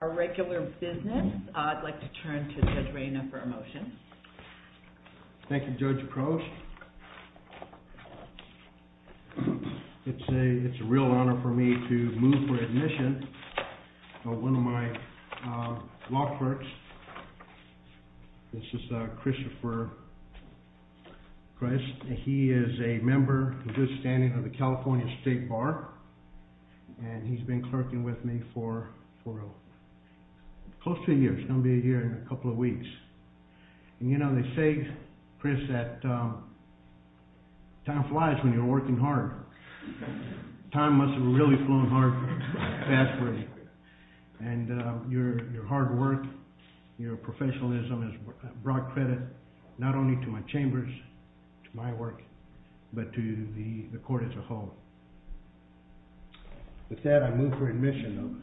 A regular business, I'd like to turn to Judge Reyna for a motion. Thank you Judge Aproach. It's a real honor for me to move for admission on one of my law clerks. This is Christopher Christ. He is a member, a good standing of the California State Bar. And he's been clerking with me for a close to a year. It's going to be a year and a couple of weeks. And you know, they say, Chris, that time flies when you're working hard. Time must have really flown hard fast for you. And your hard work, your professionalism has brought credit not only to my chambers, to my work, but to the court as a whole. With that, I move for admission.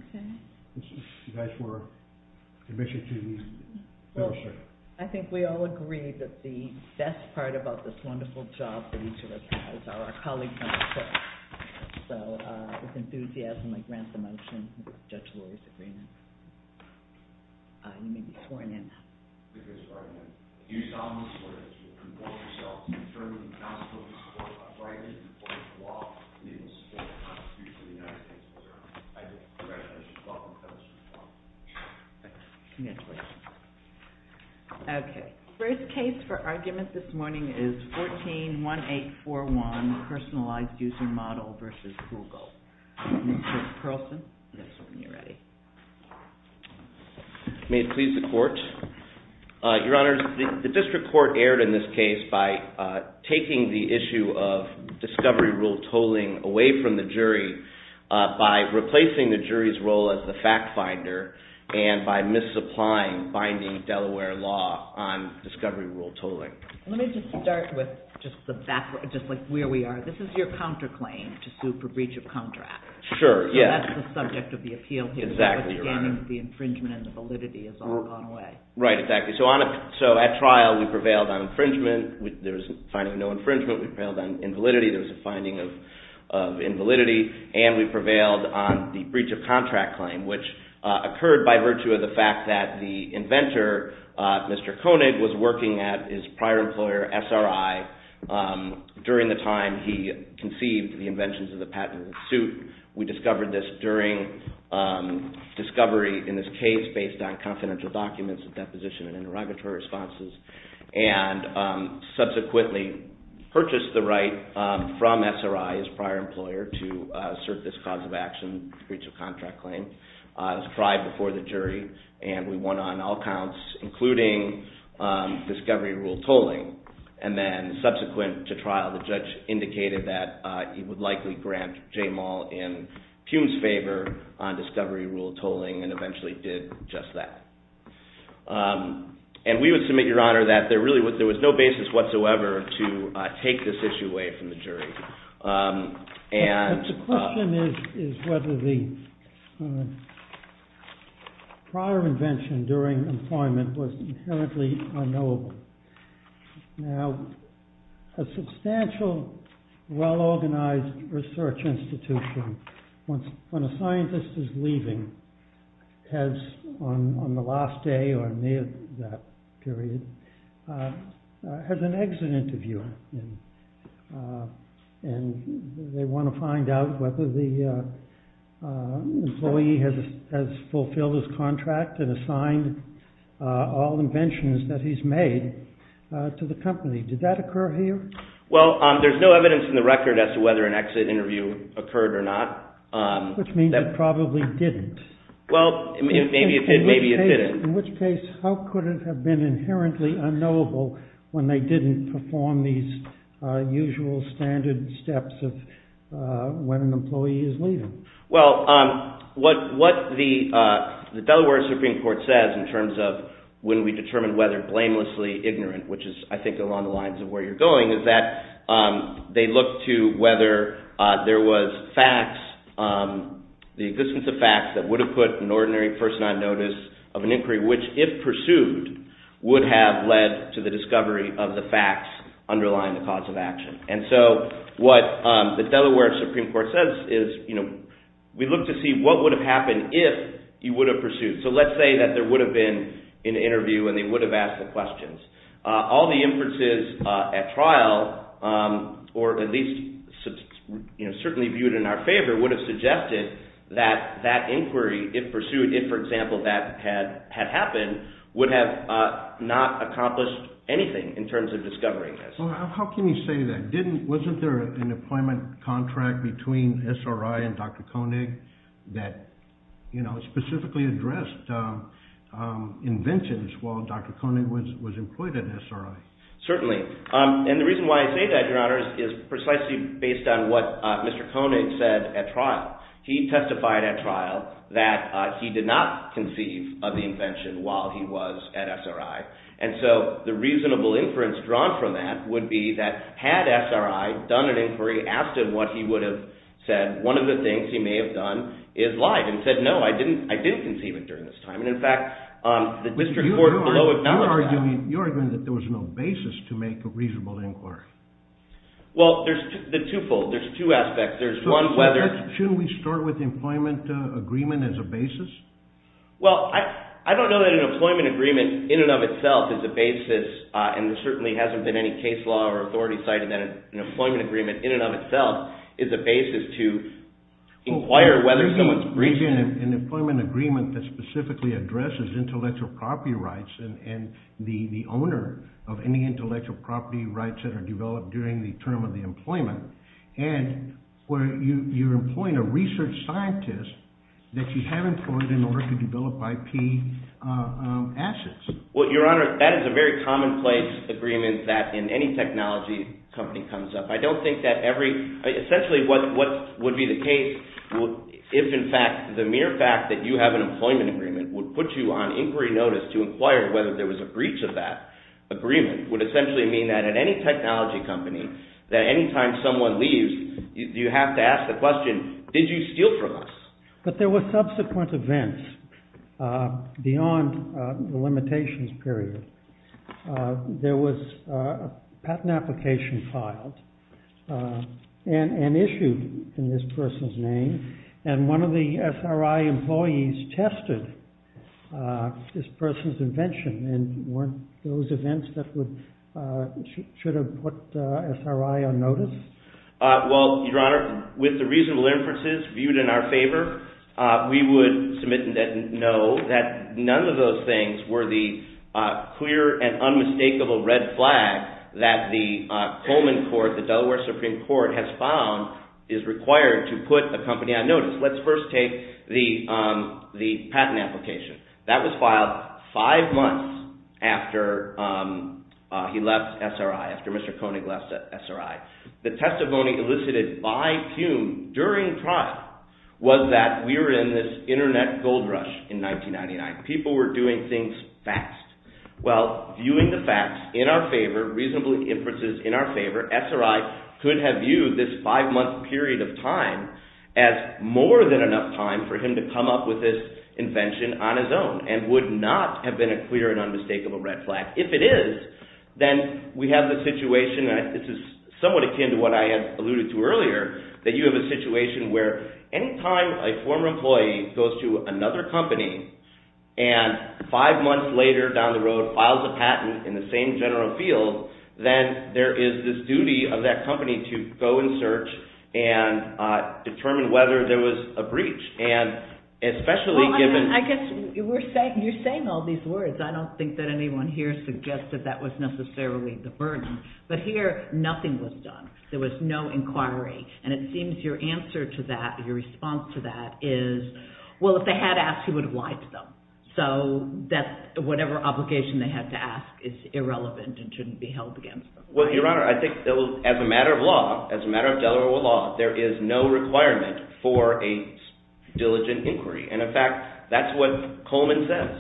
You guys were admission to the Federal Circuit. I think we all agree that the best part about this wonderful job that each of us has are our colleagues on the court. So, with enthusiasm, I grant the motion of Judge Lurie's agreement. You may be sworn in now. First case for argument this morning is 14-1841, Personalized User Model vs. Google. Mr. Carlson, next one when you're ready. May it please the Court. Your Honors, the District Court erred in this case by taking the issue of discovery rule tolling away from the jury by replacing the jury's role as the fact finder and by misapplying binding Delaware law on discovery rule tolling. Let me just start with just the back, just like where we are. This is your counterclaim to sue for breach of contract. Sure, yes. That's the subject of the appeal here. The infringement and the validity has all gone away. Right, exactly. So, at trial, we prevailed on infringement. There was a finding of no infringement. We prevailed on invalidity. There was a finding of invalidity, and we prevailed on the breach of contract claim, which occurred by virtue of the fact that the inventor, Mr. Koenig, was working at his prior employer, SRI. During the time he conceived the inventions of the patent suit, we discovered this during discovery in this case based on confidential documents, a deposition, and interrogatory responses, and subsequently purchased the right from SRI, his prior employer, to assert this cause of action, breach of contract claim. It was tried before the jury, and we won on all counts, including discovery rule tolling. And then, subsequent to trial, the judge indicated that he would likely grant J. Moll in Pugh's favor on discovery rule tolling, and eventually did just that. And we would submit, Your Honor, that there was no basis whatsoever to take this issue away from the jury. The question is whether the prior invention during employment was inherently unknowable. Now, a substantial, well-organized research institution, when a scientist is leaving, has, on the last day or near that period, has an exit interview. And they want to find out whether the employee has fulfilled his contract and assigned all inventions that he's made to the company. Did that occur here? Well, there's no evidence in the record as to whether an exit interview occurred or not. Which means it probably didn't. Well, maybe it did, maybe it didn't. In which case, how could it have been inherently unknowable when they didn't perform these usual standard steps of when an employee is leaving? Well, what the Delaware Supreme Court says in terms of when we determine whether blamelessly ignorant, which is, I think, along the lines of where you're going, is that they look to whether there was facts, the existence of facts that would have put an ordinary person on notice of an inquiry which, if pursued, would have led to the discovery of the facts underlying the cause of action. And so what the Delaware Supreme Court says is, we look to see what would have happened if he would have pursued. So let's say that there would have been an interview and they would have asked the questions. All the inferences at trial, or at least certainly viewed in our favor, would have suggested that that inquiry, if pursued, if, for example, that had happened, would have not accomplished anything in terms of discovering this. Well, how can you say that? Wasn't there an employment contract between SRI and Dr. Koenig that specifically addressed inventions while Dr. Koenig was employed at SRI? Certainly. And the reason why I say that, Your Honor, is precisely based on what Mr. Koenig said at trial. He testified at trial that he did not conceive of the invention while he was at SRI. And so the reasonable inference drawn from that would be that had SRI done an inquiry, asked him what he would have said, one of the things he may have done is lied and said, no, I didn't conceive it during this time. And in fact, the district court below acknowledged that. You're arguing that there was no basis to make a reasonable inquiry. Well, there's the twofold. There's two aspects. Shouldn't we start with employment agreement as a basis? Well, I don't know that an employment agreement, in and of itself, is a basis. And there certainly hasn't been any case law or authority citing that an employment agreement, in and of itself, is a basis to inquire whether someone's... Well, there's an employment agreement that specifically addresses intellectual property rights and the owner of any intellectual property rights that are developed during the term of the employment. And you're employing a research scientist that you have employed in order to develop IP assets. Well, Your Honor, that is a very commonplace agreement that in any technology company comes up. I don't think that every... Essentially, what would be the case if, in fact, the mere fact that you have an employment agreement would put you on inquiry notice to inquire whether there was a breach of that agreement would essentially mean that in any technology company that any time someone leaves, you have to ask the question, did you steal from us? But there were subsequent events beyond the limitations period. There was a patent application filed and issued in this person's name and one of the SRI employees tested this person's invention and weren't those events that would... should have put SRI on notice? Well, Your Honor, with the reasonable inferences viewed in our favor, we would submit and know that none of those things were the clear and unmistakable red flag that the Coleman Court, the Delaware Supreme Court has found is required to put a company on notice. Let's first take the patent application. That was filed five months after he left SRI, after Mr. Koenig left SRI. The testimony elicited by Pune during trial was that we were in this internet gold rush in 1999. People were doing things fast. Well, viewing the facts in our favor, reasonably inferences in our favor, SRI could have viewed this five-month period of time as more than enough time for him to come up with this invention on his own and would not have been a clear and unmistakable red flag. If it is, then we have the situation and this is somewhat akin to what I alluded to earlier that you have a situation where any time a former employee goes to another company and five months later down the road files a patent in the same general field, then there is this duty of that company to go and search and determine whether there was a breach. And especially given... Well, I guess you're saying all these words. I don't think that anyone here suggested that was necessarily the burden. But here, nothing was done. There was no inquiry. And it seems your answer to that, your response to that is, well, if they had asked, he would have lied to them. So whatever obligation they had to ask is irrelevant and shouldn't be held against them. Well, Your Honor, I think as a matter of law, as a matter of Delaware law, there is no requirement for a diligent inquiry. And in fact, that's what Coleman says,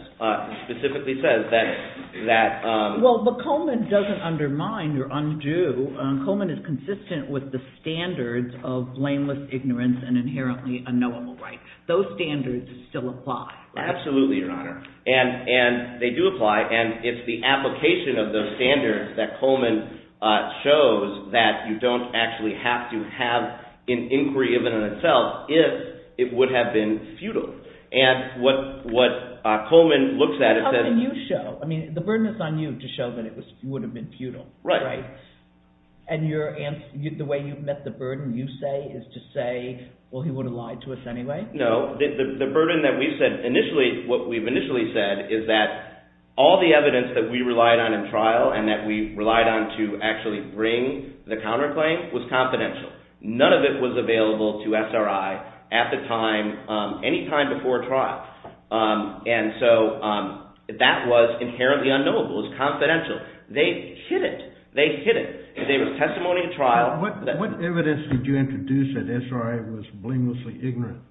specifically says that... Well, but Coleman doesn't undermine or undo. Coleman is consistent with the standards of blameless ignorance and inherently unknowable rights. Those standards still apply. Absolutely, Your Honor. And they do apply. And it's the application of those standards that Coleman shows that you don't actually have to have an inquiry of it in itself if it would have been futile. And what Coleman looks at is that... How can you show? I mean, the burden is on you to show that it would have been futile. Right. And the way you've met the burden, you say, is to say, well, he would have lied to us anyway. No, the burden that we've said initially, what we've initially said is that all the evidence that we relied on in trial and that we relied on to actually bring the counterclaim was confidential. None of it was available to SRI And so that was inherently unknowable. It was confidential. They hid it. They hid it. It was testimony in trial. What evidence did you introduce that SRI was blamelessly ignorant?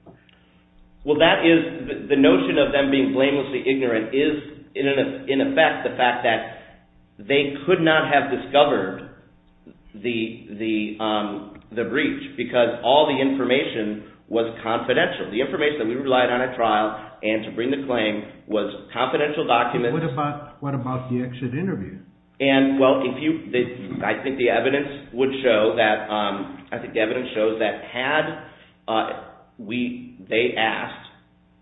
Well, that is the notion of them being blamelessly ignorant is in effect the fact that they could not have discovered the breach because all the information was confidential. The information that we relied on at trial and to bring the claim was confidential documents. And, well, if you, I think the evidence would show that, I think the evidence shows that had we, they asked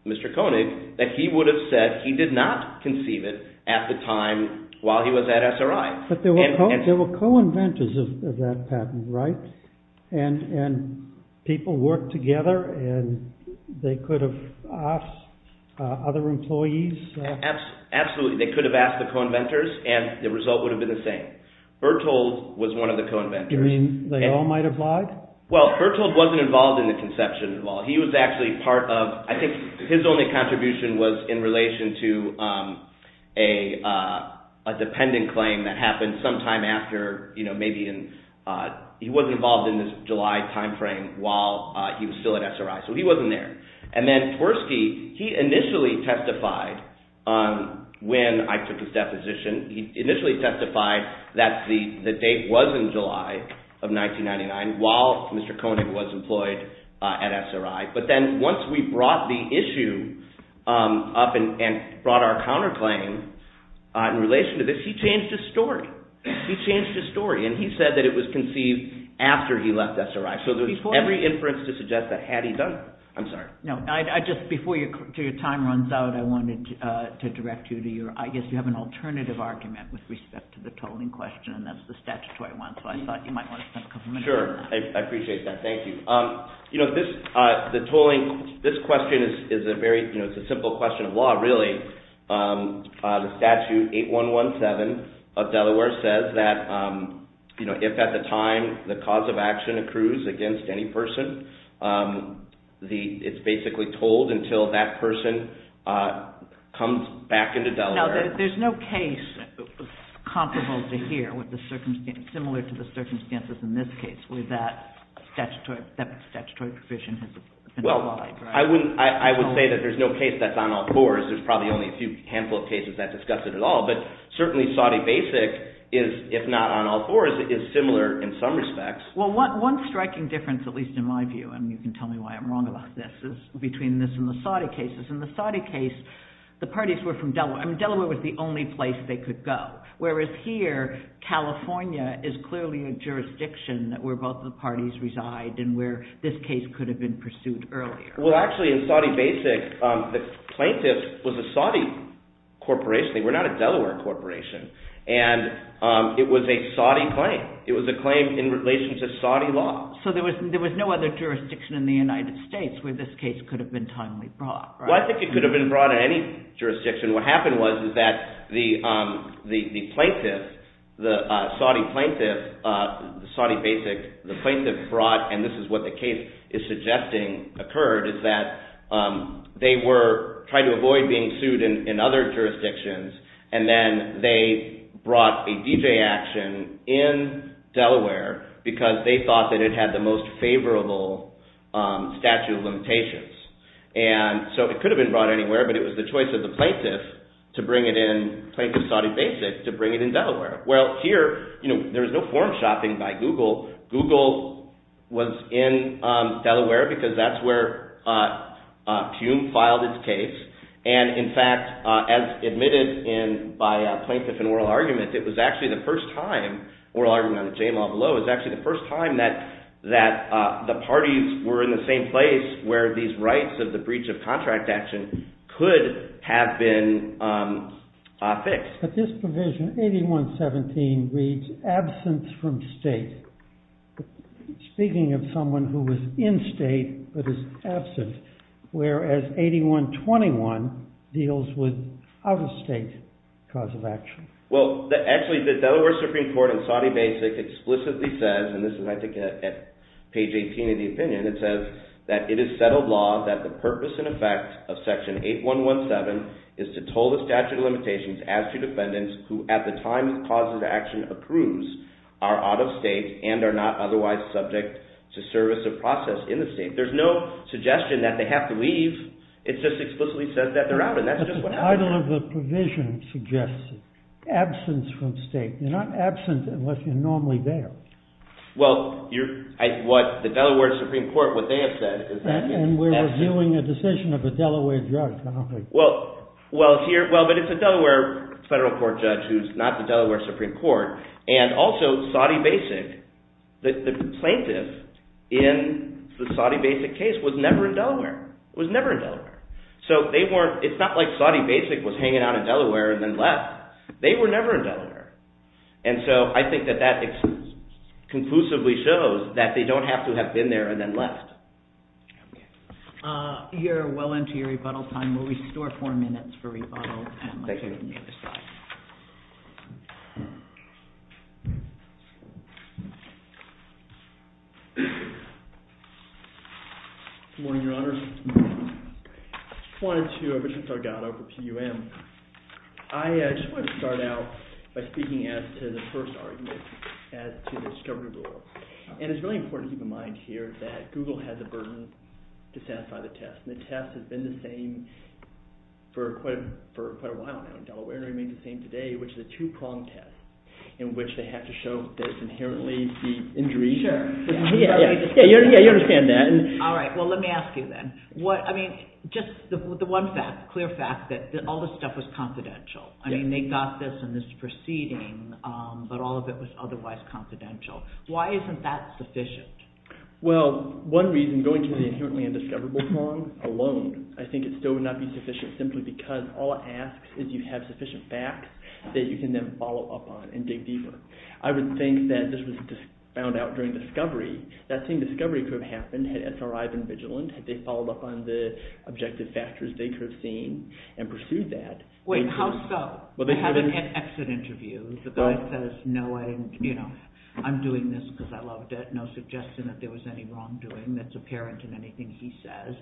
Mr. Koenig that he would have said he did not conceive it at the time while he was at SRI. But there were co-inventors of that patent, right? And people worked together and they could have asked other employees? Absolutely. They could have asked the co-inventors and the result would have been the same. Berthold was one of the co-inventors. You mean they all might have lied? Well, Berthold was not involved in the conception at all. He was actually part of, I think his only contribution was in relation to a dependent claim that happened sometime after, you know, maybe in, he was not involved in this July timeframe while he was still at SRI. So he was not there. And then Tversky, he initially testified that the date was in July of 1999 while Mr. Koenig was employed at SRI. But then once we brought the issue up and brought our counterclaim in relation to this, he changed his story. He changed his story and he said that it was conceived after he left SRI. So there's every inference to suggest that had he done, I'm sorry. No, I just, before your time runs out, I wanted to direct you to your, I guess you have an alternative argument with respect to the tolling question and that's the statutory one. So I thought you might want to spend a couple minutes on that. Sure, I appreciate that. Thank you. You know, this, the tolling, this question is a very, you know, it's a simple question of law really. The statute 8117 of Delaware says that, you know, if at the time the cause of action accrues against any person, it's basically tolled until that person comes back into Delaware. Now there's no case that's comparable to here with the circumstance, similar to the circumstances in this case where that statutory provision has been applied, right? Well, I wouldn't, I would say that there's no case that's on all fours. There's probably only a few handful of cases that discuss it at all, but certainly Saudi basic is, if not on all fours, is similar in some respects. Well, one striking difference, at least in my view, and you can tell me why I'm wrong about this, is between this and the Saudi cases. In the Saudi case, the parties were from Delaware. I mean, Delaware was the only place they could go. Whereas here, California is clearly a jurisdiction where both the parties reside and where this case could have been pursued earlier. Well, actually, in Saudi basic, the plaintiff was a Saudi corporation. They were not a Delaware corporation. And it was a Saudi claim. It was a claim in relation to Saudi law. So there was no other jurisdiction in the United States where this case could have been timely brought, right? Well, I think it could have been brought in any jurisdiction. What happened was that the plaintiff, the Saudi plaintiff, the Saudi basic, the plaintiff brought, and this is what the case is suggesting occurred, is that they were trying to avoid being sued in other jurisdictions. And then they brought a DJ action in Delaware because they thought that it had the most favorable statute of limitations. And so it could have been brought anywhere, but it was the choice of the plaintiff to bring it in, plaintiff Saudi basic, to bring it in Delaware. Well, here, there was no form shopping by Google. Google was in Delaware because that's where Pune filed its case. And, in fact, as admitted by a plaintiff in oral argument, it was actually the first time, oral argument on the J-law below, it was actually the first time that the parties were in the same place where these rights of the breach of contract action could have been fixed. But this provision, 81-17 reads absence from state. Speaking of someone who was in state, but is absent, whereas 81-21 deals with out-of-state cause of action. Well, actually, the Delaware Supreme Court in Saudi basic explicitly says, and this is, I think, at page 18 of the opinion, it says that it is settled law that the purpose and effect of section 8-1-1-7 is to toll the statute of limitations as to defendants who, at the time the cause of action approves, are out-of-state and are not otherwise subject to service of process in the state. There's no suggestion that they have to leave. It just explicitly says that they're out, and that's just what happens. Title of the provision suggests absence from state. You're not absent unless you're normally there. Well, what the Delaware Supreme Court, what they have said is that And we're reviewing a decision of the Delaware judge. Well, but it's a Delaware federal court judge who's not the Delaware Supreme Court. And also, Saudi basic, the plaintiff in the Saudi basic case was never in Delaware. It was never in Delaware. So, it's not like Saudi basic was hanging out in Delaware and then left. They were never in Delaware. And so, I think that that conclusively shows that they don't have to have been there and then left. You're well into your rebuttal time. We'll restore four minutes for rebuttal. Thank you. Good morning, Your Honor. I just wanted to, I'm Richard Sargato for PUM. I just wanted to start out by speaking as to the first argument as to the discovery rule. And it's really important to keep in mind here that Google has a burden to satisfy the test. And the test has been the same for quite a while now in Delaware and remains the same today, which is a two-prong test in which they have to show that it's inherently the injury. Sure. Yeah, you understand that. All right. Well, let me ask you then. What, I mean, just the one fact, clear fact, that all this stuff was confidential. I mean, they got this in this proceeding, but all of it was otherwise confidential. Why isn't that sufficient? Well, one reason, going to the inherently indiscoverable prong alone, I think it still would not be sufficient simply because all it asks is you have sufficient facts that you can then follow up on and dig deeper. I would think that this was found out during discovery. That same discovery could have happened had SRI been vigilant, had they followed up on the objective factors they could have seen and pursued that. Wait, how so? They have an exit interview. The guy says, knowing, you know, I'm doing this because I loved it. No suggestion that there was any wrongdoing. That's apparent in everything he says.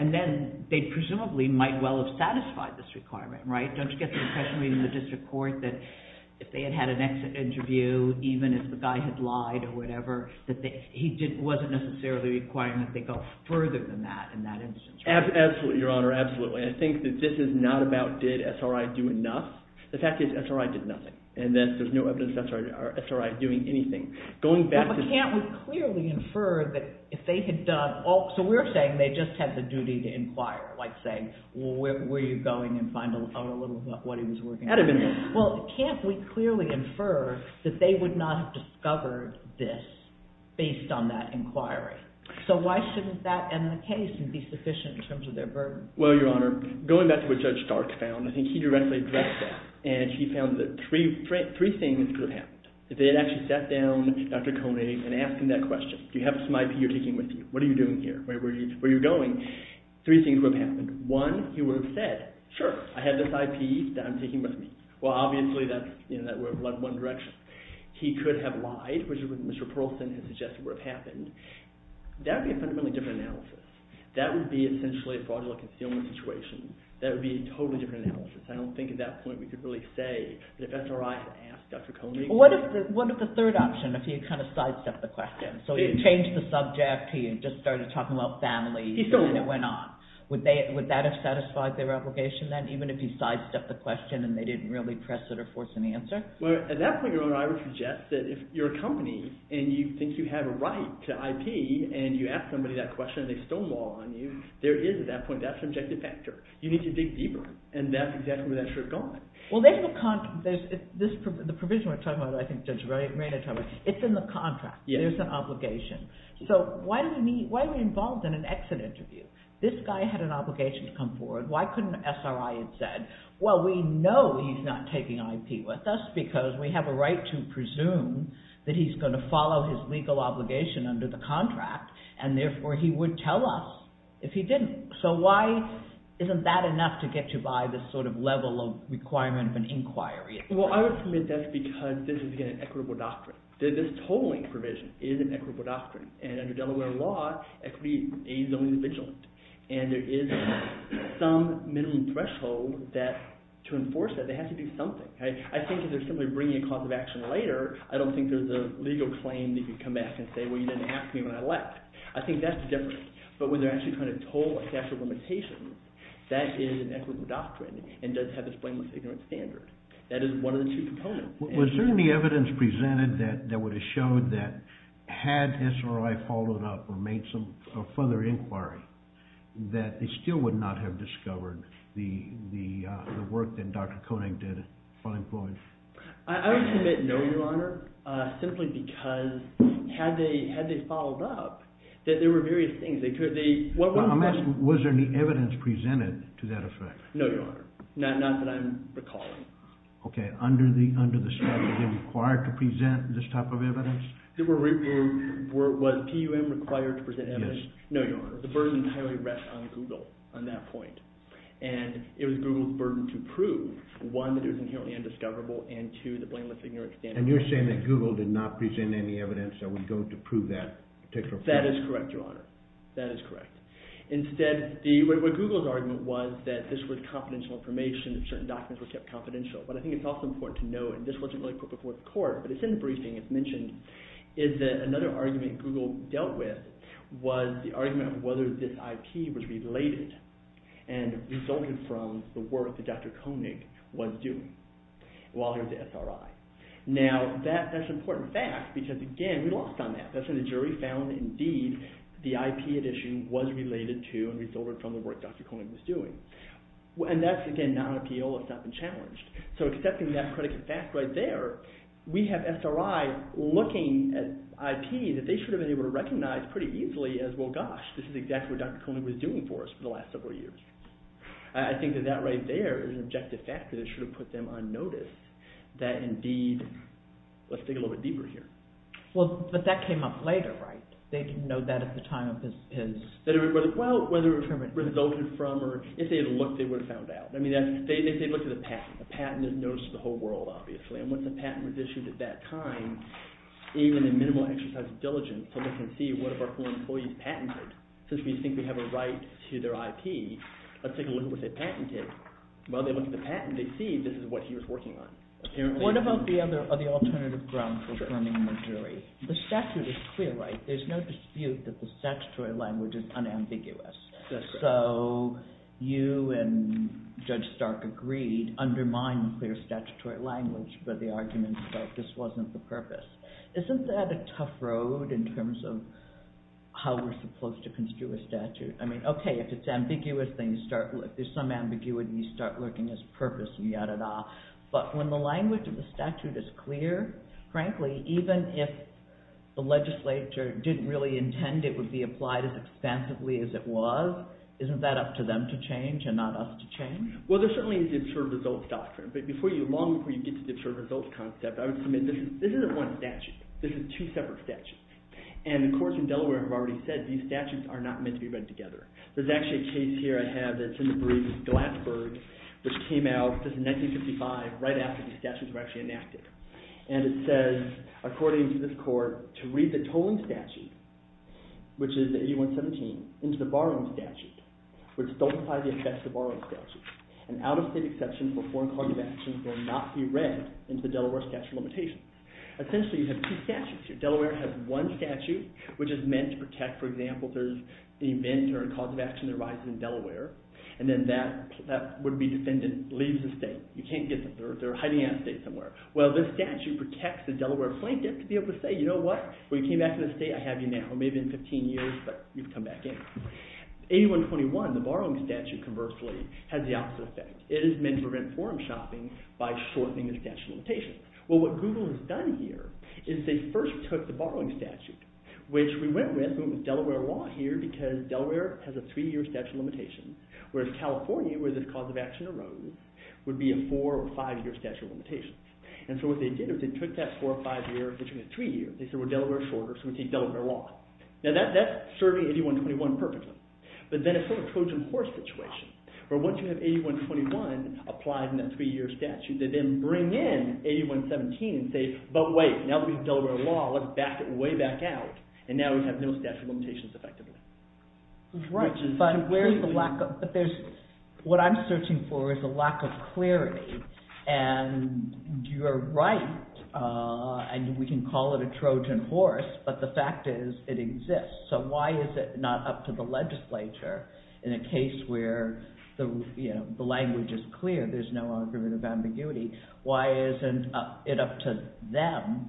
And then, they presumably might well have satisfied this requirement, right? Don't you get the impression in the district court that if they had had an exit interview, even if the guy had lied or whatever, that he wasn't necessarily requiring that they go further than that in that instance, right? Absolutely, Your Honor. Absolutely. I think that this is not about did SRI do enough. The fact is, SRI did nothing. And then, there's no evidence that SRI are doing anything. Going back to... McCant would clearly infer that if they had done all of the things that SRI did, they would not have discovered this based on that inquiry. So, why shouldn't that end the case and be sufficient in terms of their burden? Well, Your Honor, going back to what Judge Stark found, I think he directly addressed that. And, he found that three things could have happened. If they had actually What are you doing here? What are you doing here? What are you doing here? What are you doing here? What are you doing here? What are you doing here? What are you doing here? Where are you going? Three things would have happened. One, he would have said, sure, I have this IP that I'm taking with me. Well, obviously, that would have led one direction. He could have lied, which is what Mr. Perlson has suggested would have happened. That would be a fundamentally different analysis. That would be, essentially, a fraudulent concealment situation. That would be a totally different analysis. I don't think at that point we could really say that if SRI had asked Dr. Koenig... What if the third option, if he had kind of sidestepped the question? So, if he had changed the subject, he had just started talking about families, and then it went on. Would that have satisfied their obligation then, even if he sidestepped the question and they didn't really press it or force an answer? Well, at that point, your Honor, I would suggest that if you're a company and you think you have a right to IP and you ask somebody that question and they stonewall on you, there is, at that point, that subjective factor. You need to dig deeper, and that's exactly where that should have gone. Well, they have a contract. The provision we're talking about, which I think Judge Raynard talked about, it's in the contract. There's an obligation. So, why are we involved in an exit interview? This guy had an obligation to come forward. Why couldn't SRI have said, well, we know he's not taking IP with us because we have a right to presume that he's going to follow his legal obligation under the contract, and therefore, he would tell us if he didn't. So, why isn't that enough to get you by this sort of level of requirement of an inquiry? Well, I would submit that's because this is, again, an equitable doctrine. This tolling provision is an equitable doctrine, and under Delaware law, equity is only vigilant, and there is some minimum threshold that to enforce that, they have to do something. I think if they're simply bringing a cause of action later, I don't think there's a legal claim that you can come back and say, well, you didn't ask me when I left. I think that's the difference, but when they're actually trying to toll a statute of limitations, that is an equitable doctrine and does have this blameless ignorance standard. That is one of the two components. Was there any evidence presented that would have showed that had SROI followed up or made some further inquiry that they still would not have discovered the work that Dr. Koenig did on employment? I would submit no, Your Honor, simply because had they followed up, there were various things. I'm asking, was there any evidence presented to that effect? No, Your Honor. Not that I'm recalling. Okay, under the statute, were they required to present this type of evidence? Was PUM required to present evidence? No, Your Honor. The burden entirely rests on Google on that point. And it was Google's burden to prove one, that it was inherently undiscoverable and two, the blameless ignorance standard. that Google did not present any evidence that would go to prove that particular point? That is correct, Your Honor. That is correct. Instead, what Google's argument was that this was confidential information and certain documents were kept confidential. But I think it's also important to note, and this wasn't really put before the court, but it's in the briefing, it's mentioned, is that another argument Google dealt with was the argument of whether this IP was related and resulted from the work that Dr. Koenig was doing while he was at SRI. Now, that's an important fact because, again, we lost on that. That's when the jury found, indeed, the IP addition was related to and resulted from the work Dr. Koenig was doing. And that's, again, non-appeal. It's not been challenged. So accepting that predicate fact right there, we have SRI looking at IP that they should have been able to recognize pretty easily as, well, gosh, this is exactly what Dr. Koenig was doing for us for the last several years. I think that that right there is an objective fact that it should have put them on notice that, indeed, let's dig a little bit deeper here. Well, but that came up later, right? They didn't know that at the time of his... Well, whether it resulted from or... If they had looked, they would have found out. I mean, they looked at the patent. The patent is noticed to the whole world, obviously. And once the patent was issued at that time, even a minimal exercise of diligence so they can see what of our former employees patented. Since we think we have a right to their IP, let's take a look at what they patented. Well, they looked at the patent. They see this is what he was working on, apparently. What about the other alternative grounds for affirming the jury? The statute is clear, right? There's no dispute that the statutory language is unambiguous. So you and Judge Stark agreed, undermine clear statutory language for the arguments that this wasn't the purpose. Isn't that a tough road in terms of how we're supposed to construe a statute? I mean, okay, if it's ambiguous, then you start... If there's some ambiguity, of the statute is clear, frankly, even if the legislature didn't agree with the statute, they would still look at the statute and say, okay, this is what the statute If they didn't really intend it would be applied as expansively as it was, isn't that up to them to change and not us to change? Well, there certainly is the observed results doctrine. But before you... Long before you get to the observed results concept, I would submit this isn't one statute. This is two separate statutes. And the courts in Delaware have already said these statutes are not meant to be read together. There's actually a case here I have that's in the brief, Glassburg, which came out in 1955 right after these statutes were actually enacted. And it says, according to this court, to read the tolling statute, which is 8117, into the borrowing statute would stultify the effect of the borrowing statute. An out-of-state exception for foreign card transactions will not be read into the Delaware statute of limitations. Essentially, you have two statutes here. Delaware has one statute, which is meant to protect, for example, the inventor and cause of action that arises in Delaware. And then that would be defendant leaves the state. You can't get them. They're hiding out of state somewhere. Well, this statute protects the Delaware blanket to be able to say, you know what, when you came back to the state, I have you now. Maybe in 15 years, but you've come back in. 8121, the borrowing statute, conversely, has the opposite effect. It is meant to prevent foreign shopping by shortening the statute of limitations. Well, what Google has done here is they first took the borrowing statute, which we went with Delaware law here because Delaware has a three-year statute of limitations, whereas California, where the cause of action arose, would be a four- or five-year statute of limitations. And so what they did was they took that four- or five-year between the three years. They said, well, Delaware is shorter, so we'll take Delaware law. Now, that's serving 8121 perfectly, but then it's sort of a Trojan horse situation, where once you have 8121 applied in that three-year statute, they then bring in 8117 and say, but wait, now that we have Delaware law, let's back it way back out. And now we have no statute of limitations effectively. Right, but where's the lack of, but there's, what I'm searching for is a lack of clarity. And you're right, and we can call it a Trojan horse, but the fact is it exists. So why is it not in a case where, you know, the language is clear, there's no argument of ambiguity? Why isn't it up to them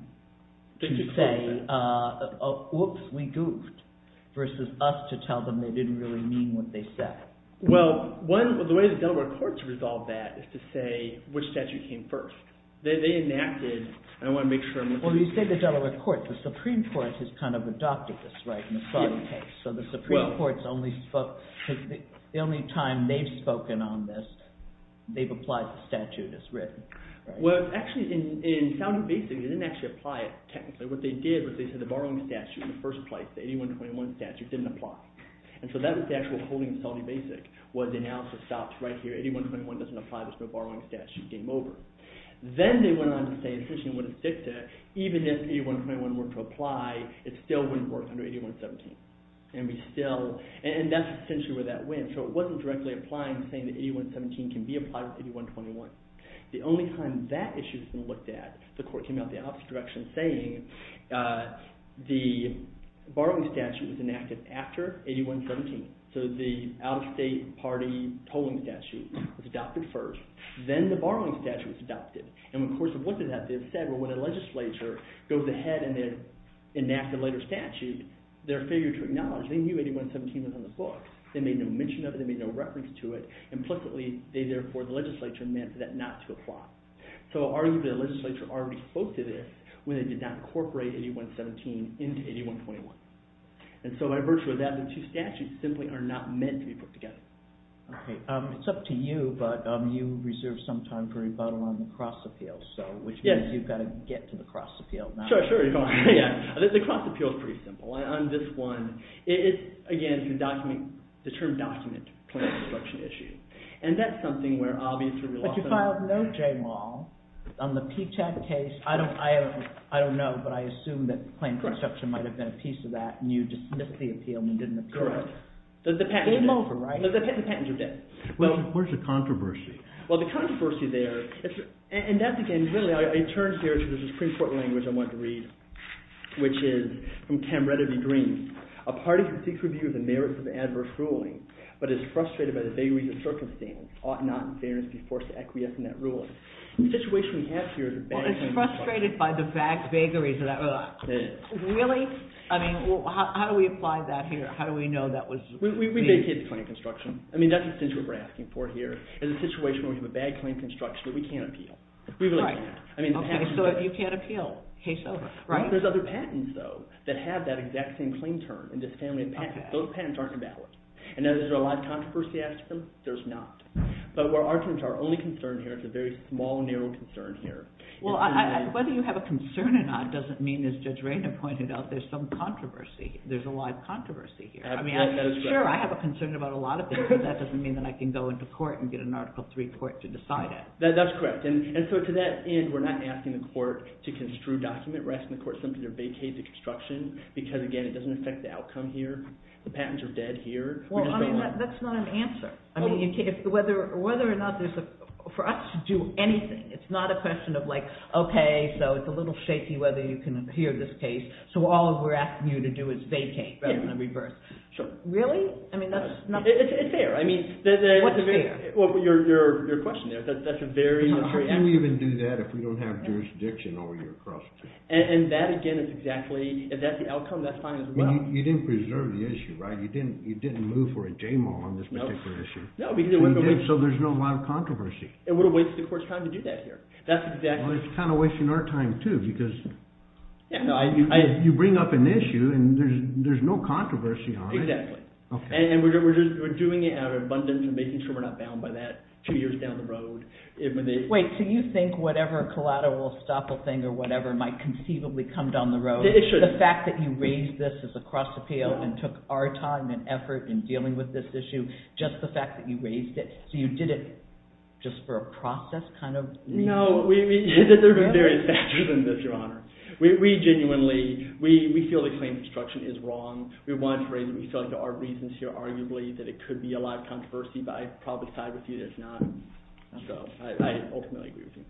in a case where there's no argument of ambiguity? To say, whoops, we goofed, versus us to tell them they didn't really mean what they said. Well, one, the way the Delaware courts resolve that is to say which statute came first. They enacted, and I want to make sure I'm making sure. Well, you said the Delaware courts, the Supreme Court has kind of adopted this, right, in the Spartan case. So the Supreme Court only spoke, the only time they've spoken on this, they've applied the statute as written. Well, actually, in founding basic, they didn't actually apply it technically. What they did was they said the borrowing statute in the first place, the 8121 statute, didn't apply. And so that was the actual holding of founding basic was the analysis stopped right here. 8121 doesn't apply, so the borrowing statute came over. Then they went on to say, essentially, even if 8121 were to apply, it still wouldn't work under 8117. And we still, and that's essentially where that went. So it wasn't directly applying to anyone saying that 8117 can be applied to 8121. The only time that issue has been looked at, the court came out the opposite direction saying, the borrowing statute was enacted after 8117. So the out-of-state party tolling statute was adopted first, then the borrowing statute was adopted. And in the course of what they've said, well, when a legislature goes ahead and they enact a later statute, they're failure to acknowledge, they knew 8117 was on the book. They made no mention of it, they made no reference to it, implicitly, they therefore, the legislature meant that not to apply. So arguably, the legislature already spoke to this when they did not incorporate 8117 into 8121. And so by virtue of that, the two statutes simply are not meant to be put together. Okay. It's up to you, but you reserved some time for rebuttal on the cross appeal, so which means you've got to get to the cross appeal. Sure, sure. The cross appeal is pretty simple. On this one, again, the term document is the most important claim construction issue. And that's something where obviously, we lost a lot of time. But you filed no J-Law on the P-TECH case. I don't know, but I assume that claim construction might have been a piece of that and you dismissed the appeal and you didn't appeal it. Correct. Game over, right? The patents are dead. Where's the controversy? Well, the controversy there, and that's again, really, it turns here to this pretty important language I wanted to read, which is from Cam Redderby Green, a party that seeks review of the merits of adverse ruling, but is frustrated by the vagaries of circumstance, ought not in fairness be forced to acquiesce in that ruling. The situation we have here is a bad claim construction. Well, it's frustrated by the vagaries of that ruling. It is. Really? I mean, how do we apply that here? How do we know that was really... We vacate the claim construction. I mean, that's essentially what we're asking for here is a situation where we have a bad claim construction that we can't appeal. We really can't. Okay, so you can't appeal. Case over, right? There's other patents, though, that have that exact same claim term in this family of patents. Those patents aren't invalid. And now, is there a live controversy after them? There's not. But our only concern here is a very small, narrow concern here. Well, whether you have a concern or not doesn't mean, as Judge Rainer pointed out, there's some controversy. There's a live controversy here. I mean, sure, I have a concern about a lot of things, but that doesn't mean that I can go into court and get an Article III court to decide it. That's correct. And so to that end, we're not asking the court to construe document. We're asking the court simply to vacate the construction because, again, it doesn't affect the outcome here. The patents are dead here. Well, I mean, that's not an answer. I mean, whether or not there's a... For us to do anything, it's not a question of like, okay, so it's a little shaky whether you can adhere to this case, so all we're asking you to do is vacate rather than reverse. So really? I mean, that's not... It's there. I mean... What's there? Well, your question there, that's a very... How can we even do that if we don't have jurisdiction over your... And that, again, is exactly... If that's the outcome, that's fine as well. You didn't preserve the issue, right? You didn't move for a JMO on this particular issue. No, because... So there's not a lot of controversy. It would have wasted the court's time to do that here. That's exactly... Well, it's kind of wasting our time, too, because you bring up an issue and there's no controversy on it. Exactly. And we're doing it out of abundance and making sure we're not bound by that two years down the road. Wait, so you think whatever collateral will stop a thing or whatever might conceivably come down the road, the fact that you raised this as a cross-appeal and took our time and effort in dealing with this issue, just the fact that you raised it, so you did it just for a process kind of reason? No. There's been various factors in this, Your Honor. We genuinely... We feel the claim of obstruction is wrong. We wanted to raise it. We feel like there are reasons here, arguably, that it could be a lot of controversy, but I probably side with you that it's not. So, I ultimately agree with you.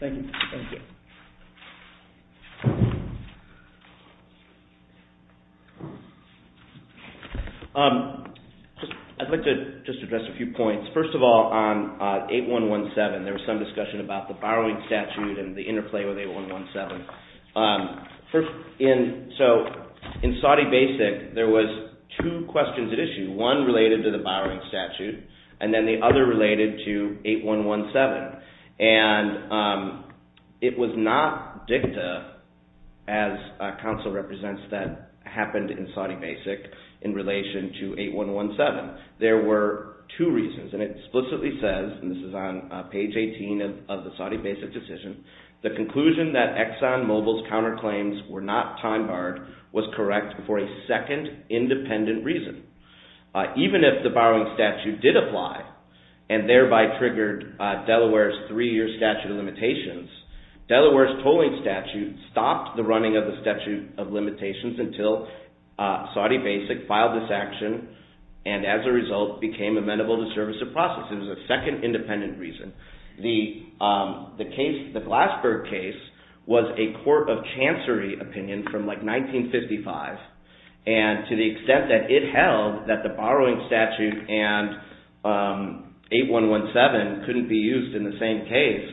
Thank you. Thank you. I'd like to just address a few points. First of all, on 8117, there was some discussion about the borrowing statute and the interplay with 8117. So, in Saudi Basic, there was two questions at issue. One related to the borrowing statute and then the other related to 8117. And, it was not dicta, as counsel represents, that happened in Saudi Basic in relation to 8117. There were two reasons and it explicitly says, and this is on page 18 of the Saudi Basic decision, the conclusion that Exxon Mobil's counterclaims were not time-barred was correct for a second independent reason. Even if the borrowing statute did apply and thereby triggered Delaware's three-year statute of limitations, Delaware's tolling statute stopped the running of the statute of limitations until Saudi Basic filed this action and, as a result, became amenable to service of process. It was a second independent reason. The, the case, the Glassberg case was a court of chancery opinion from like 1955 and, to the extent that it held that the borrowing statute and 8117 couldn't be used in the same case,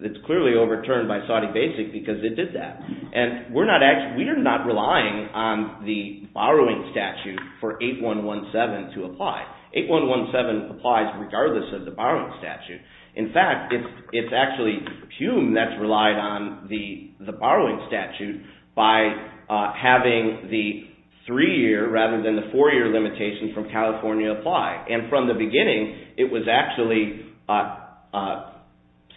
it's clearly overturned by Saudi Basic because it did that. And, we're not actually, we are not relying on the borrowing statute for 8117 to apply. 8117 applies regardless of the borrowing statute. In fact, it's, it's actually Hume that's relied on the, the borrowing statute by having the three-year rather than the four-year limitation from California apply. And, from the beginning, it was actually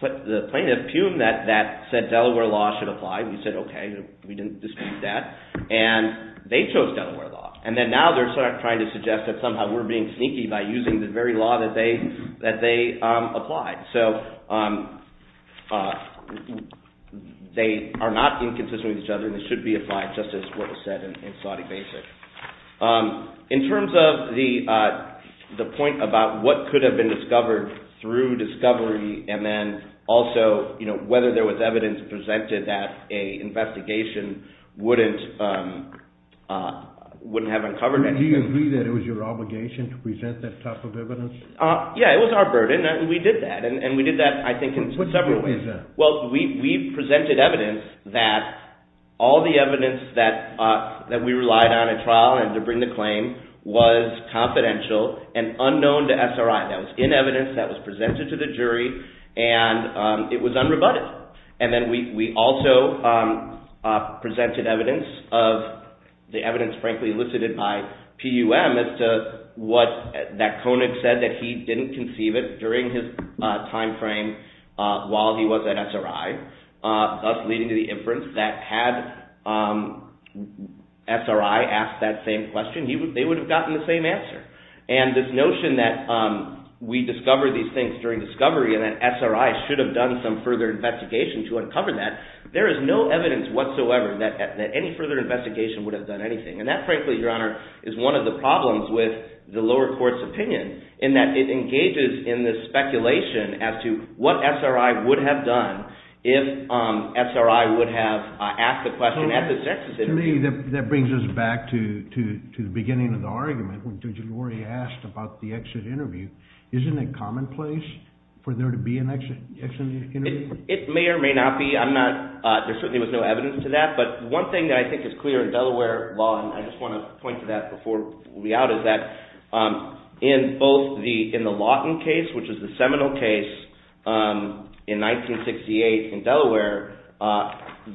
put, the plaintiff, Hume, that, that said Delaware law should apply. We said, okay, we didn't dispute that. And, they chose Delaware law. And then, now they're trying to suggest that somehow we're being sneaky by using the very law that they, that they applied. So, they are not inconsistent with each other and should be applied just as what was said in Saudi Basic. In terms of the, the point about what could have been discovered through discovery and then also, you know, whether there was evidence presented that a investigation wouldn't, wouldn't have uncovered anything. Do you agree that it was your obligation to present that type of evidence? Uh, yeah, it was our burden and we did that. And, and we did that, I think, in several ways. What do you mean by that? Well, we, we presented evidence that all the evidence that, that we relied on in trial and to bring the claim was confidential and unknown to SRI. That was in evidence, that was presented to the SRI. What, that Koenig said that he didn't conceive it during his time frame while he was at SRI, thus leading to the inference that had SRI ask that same question, they would have gotten the same answer. And this notion that we discovered these things during discovery and that SRI should have done some further investigation to uncover that, there is no evidence whatsoever that, that any further investigation would have done anything. And that, frankly, your Honor, is one of the problems with the lower court's opinion in that it engages in this speculation as to what SRI would have done if SRI would have asked the question at the census interview. To me, that brings us back to, to the question of whether or not there certainly was no evidence to that. But one thing that I think is clear in Delaware law, and I just want to point to that before we out, is that in both the, in the Lawton case, which is the seminal case in 1968 in Delaware,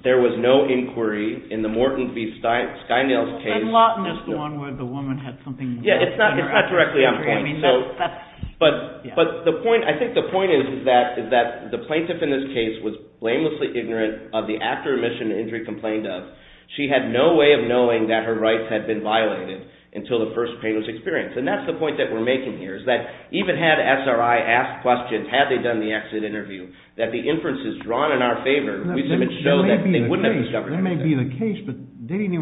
there was no inquiry in the Morton v. Skynails case. And Lawton is the one where the woman had something wrong. Yeah, it's not directly on the point. So, but the point, I think the point is that the plaintiff in this case was blamelessly ignorant of the after admission and injury complaint of. She had no way of knowing that her rights had been violated until the first pain was experienced. And that's the point that we're making here, is that even had SRI ask questions, had they done the exit interview, that the inferences drawn in our favor would show that they wouldn't have discovered anything. That may be the case, but in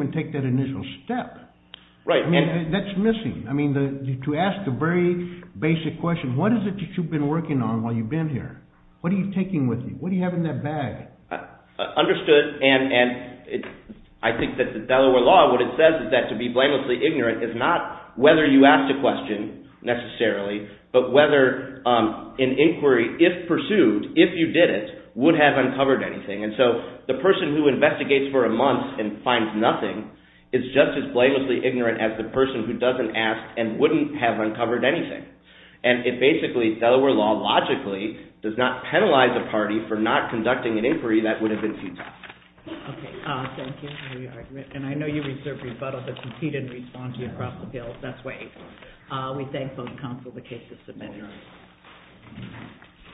Delaware law, what it says is that to be blamelessly ignorant is not whether you asked a question, necessarily, but whether an inquiry, if pursued, if you did it, would have uncovered anything. And so, the person who investigates for a month and finds nothing is just as blamelessly ignorant as the person who doesn't ask and wouldn't have uncovered anything. And it basically, Delaware law, logically, does not penalize a party for not conducting an inquiry that would have been too tough. Okay, thank you for your argument. And I know you reserve rebuttal to compete and respond to across the field. That's waived. We thank the members of the Consul and the case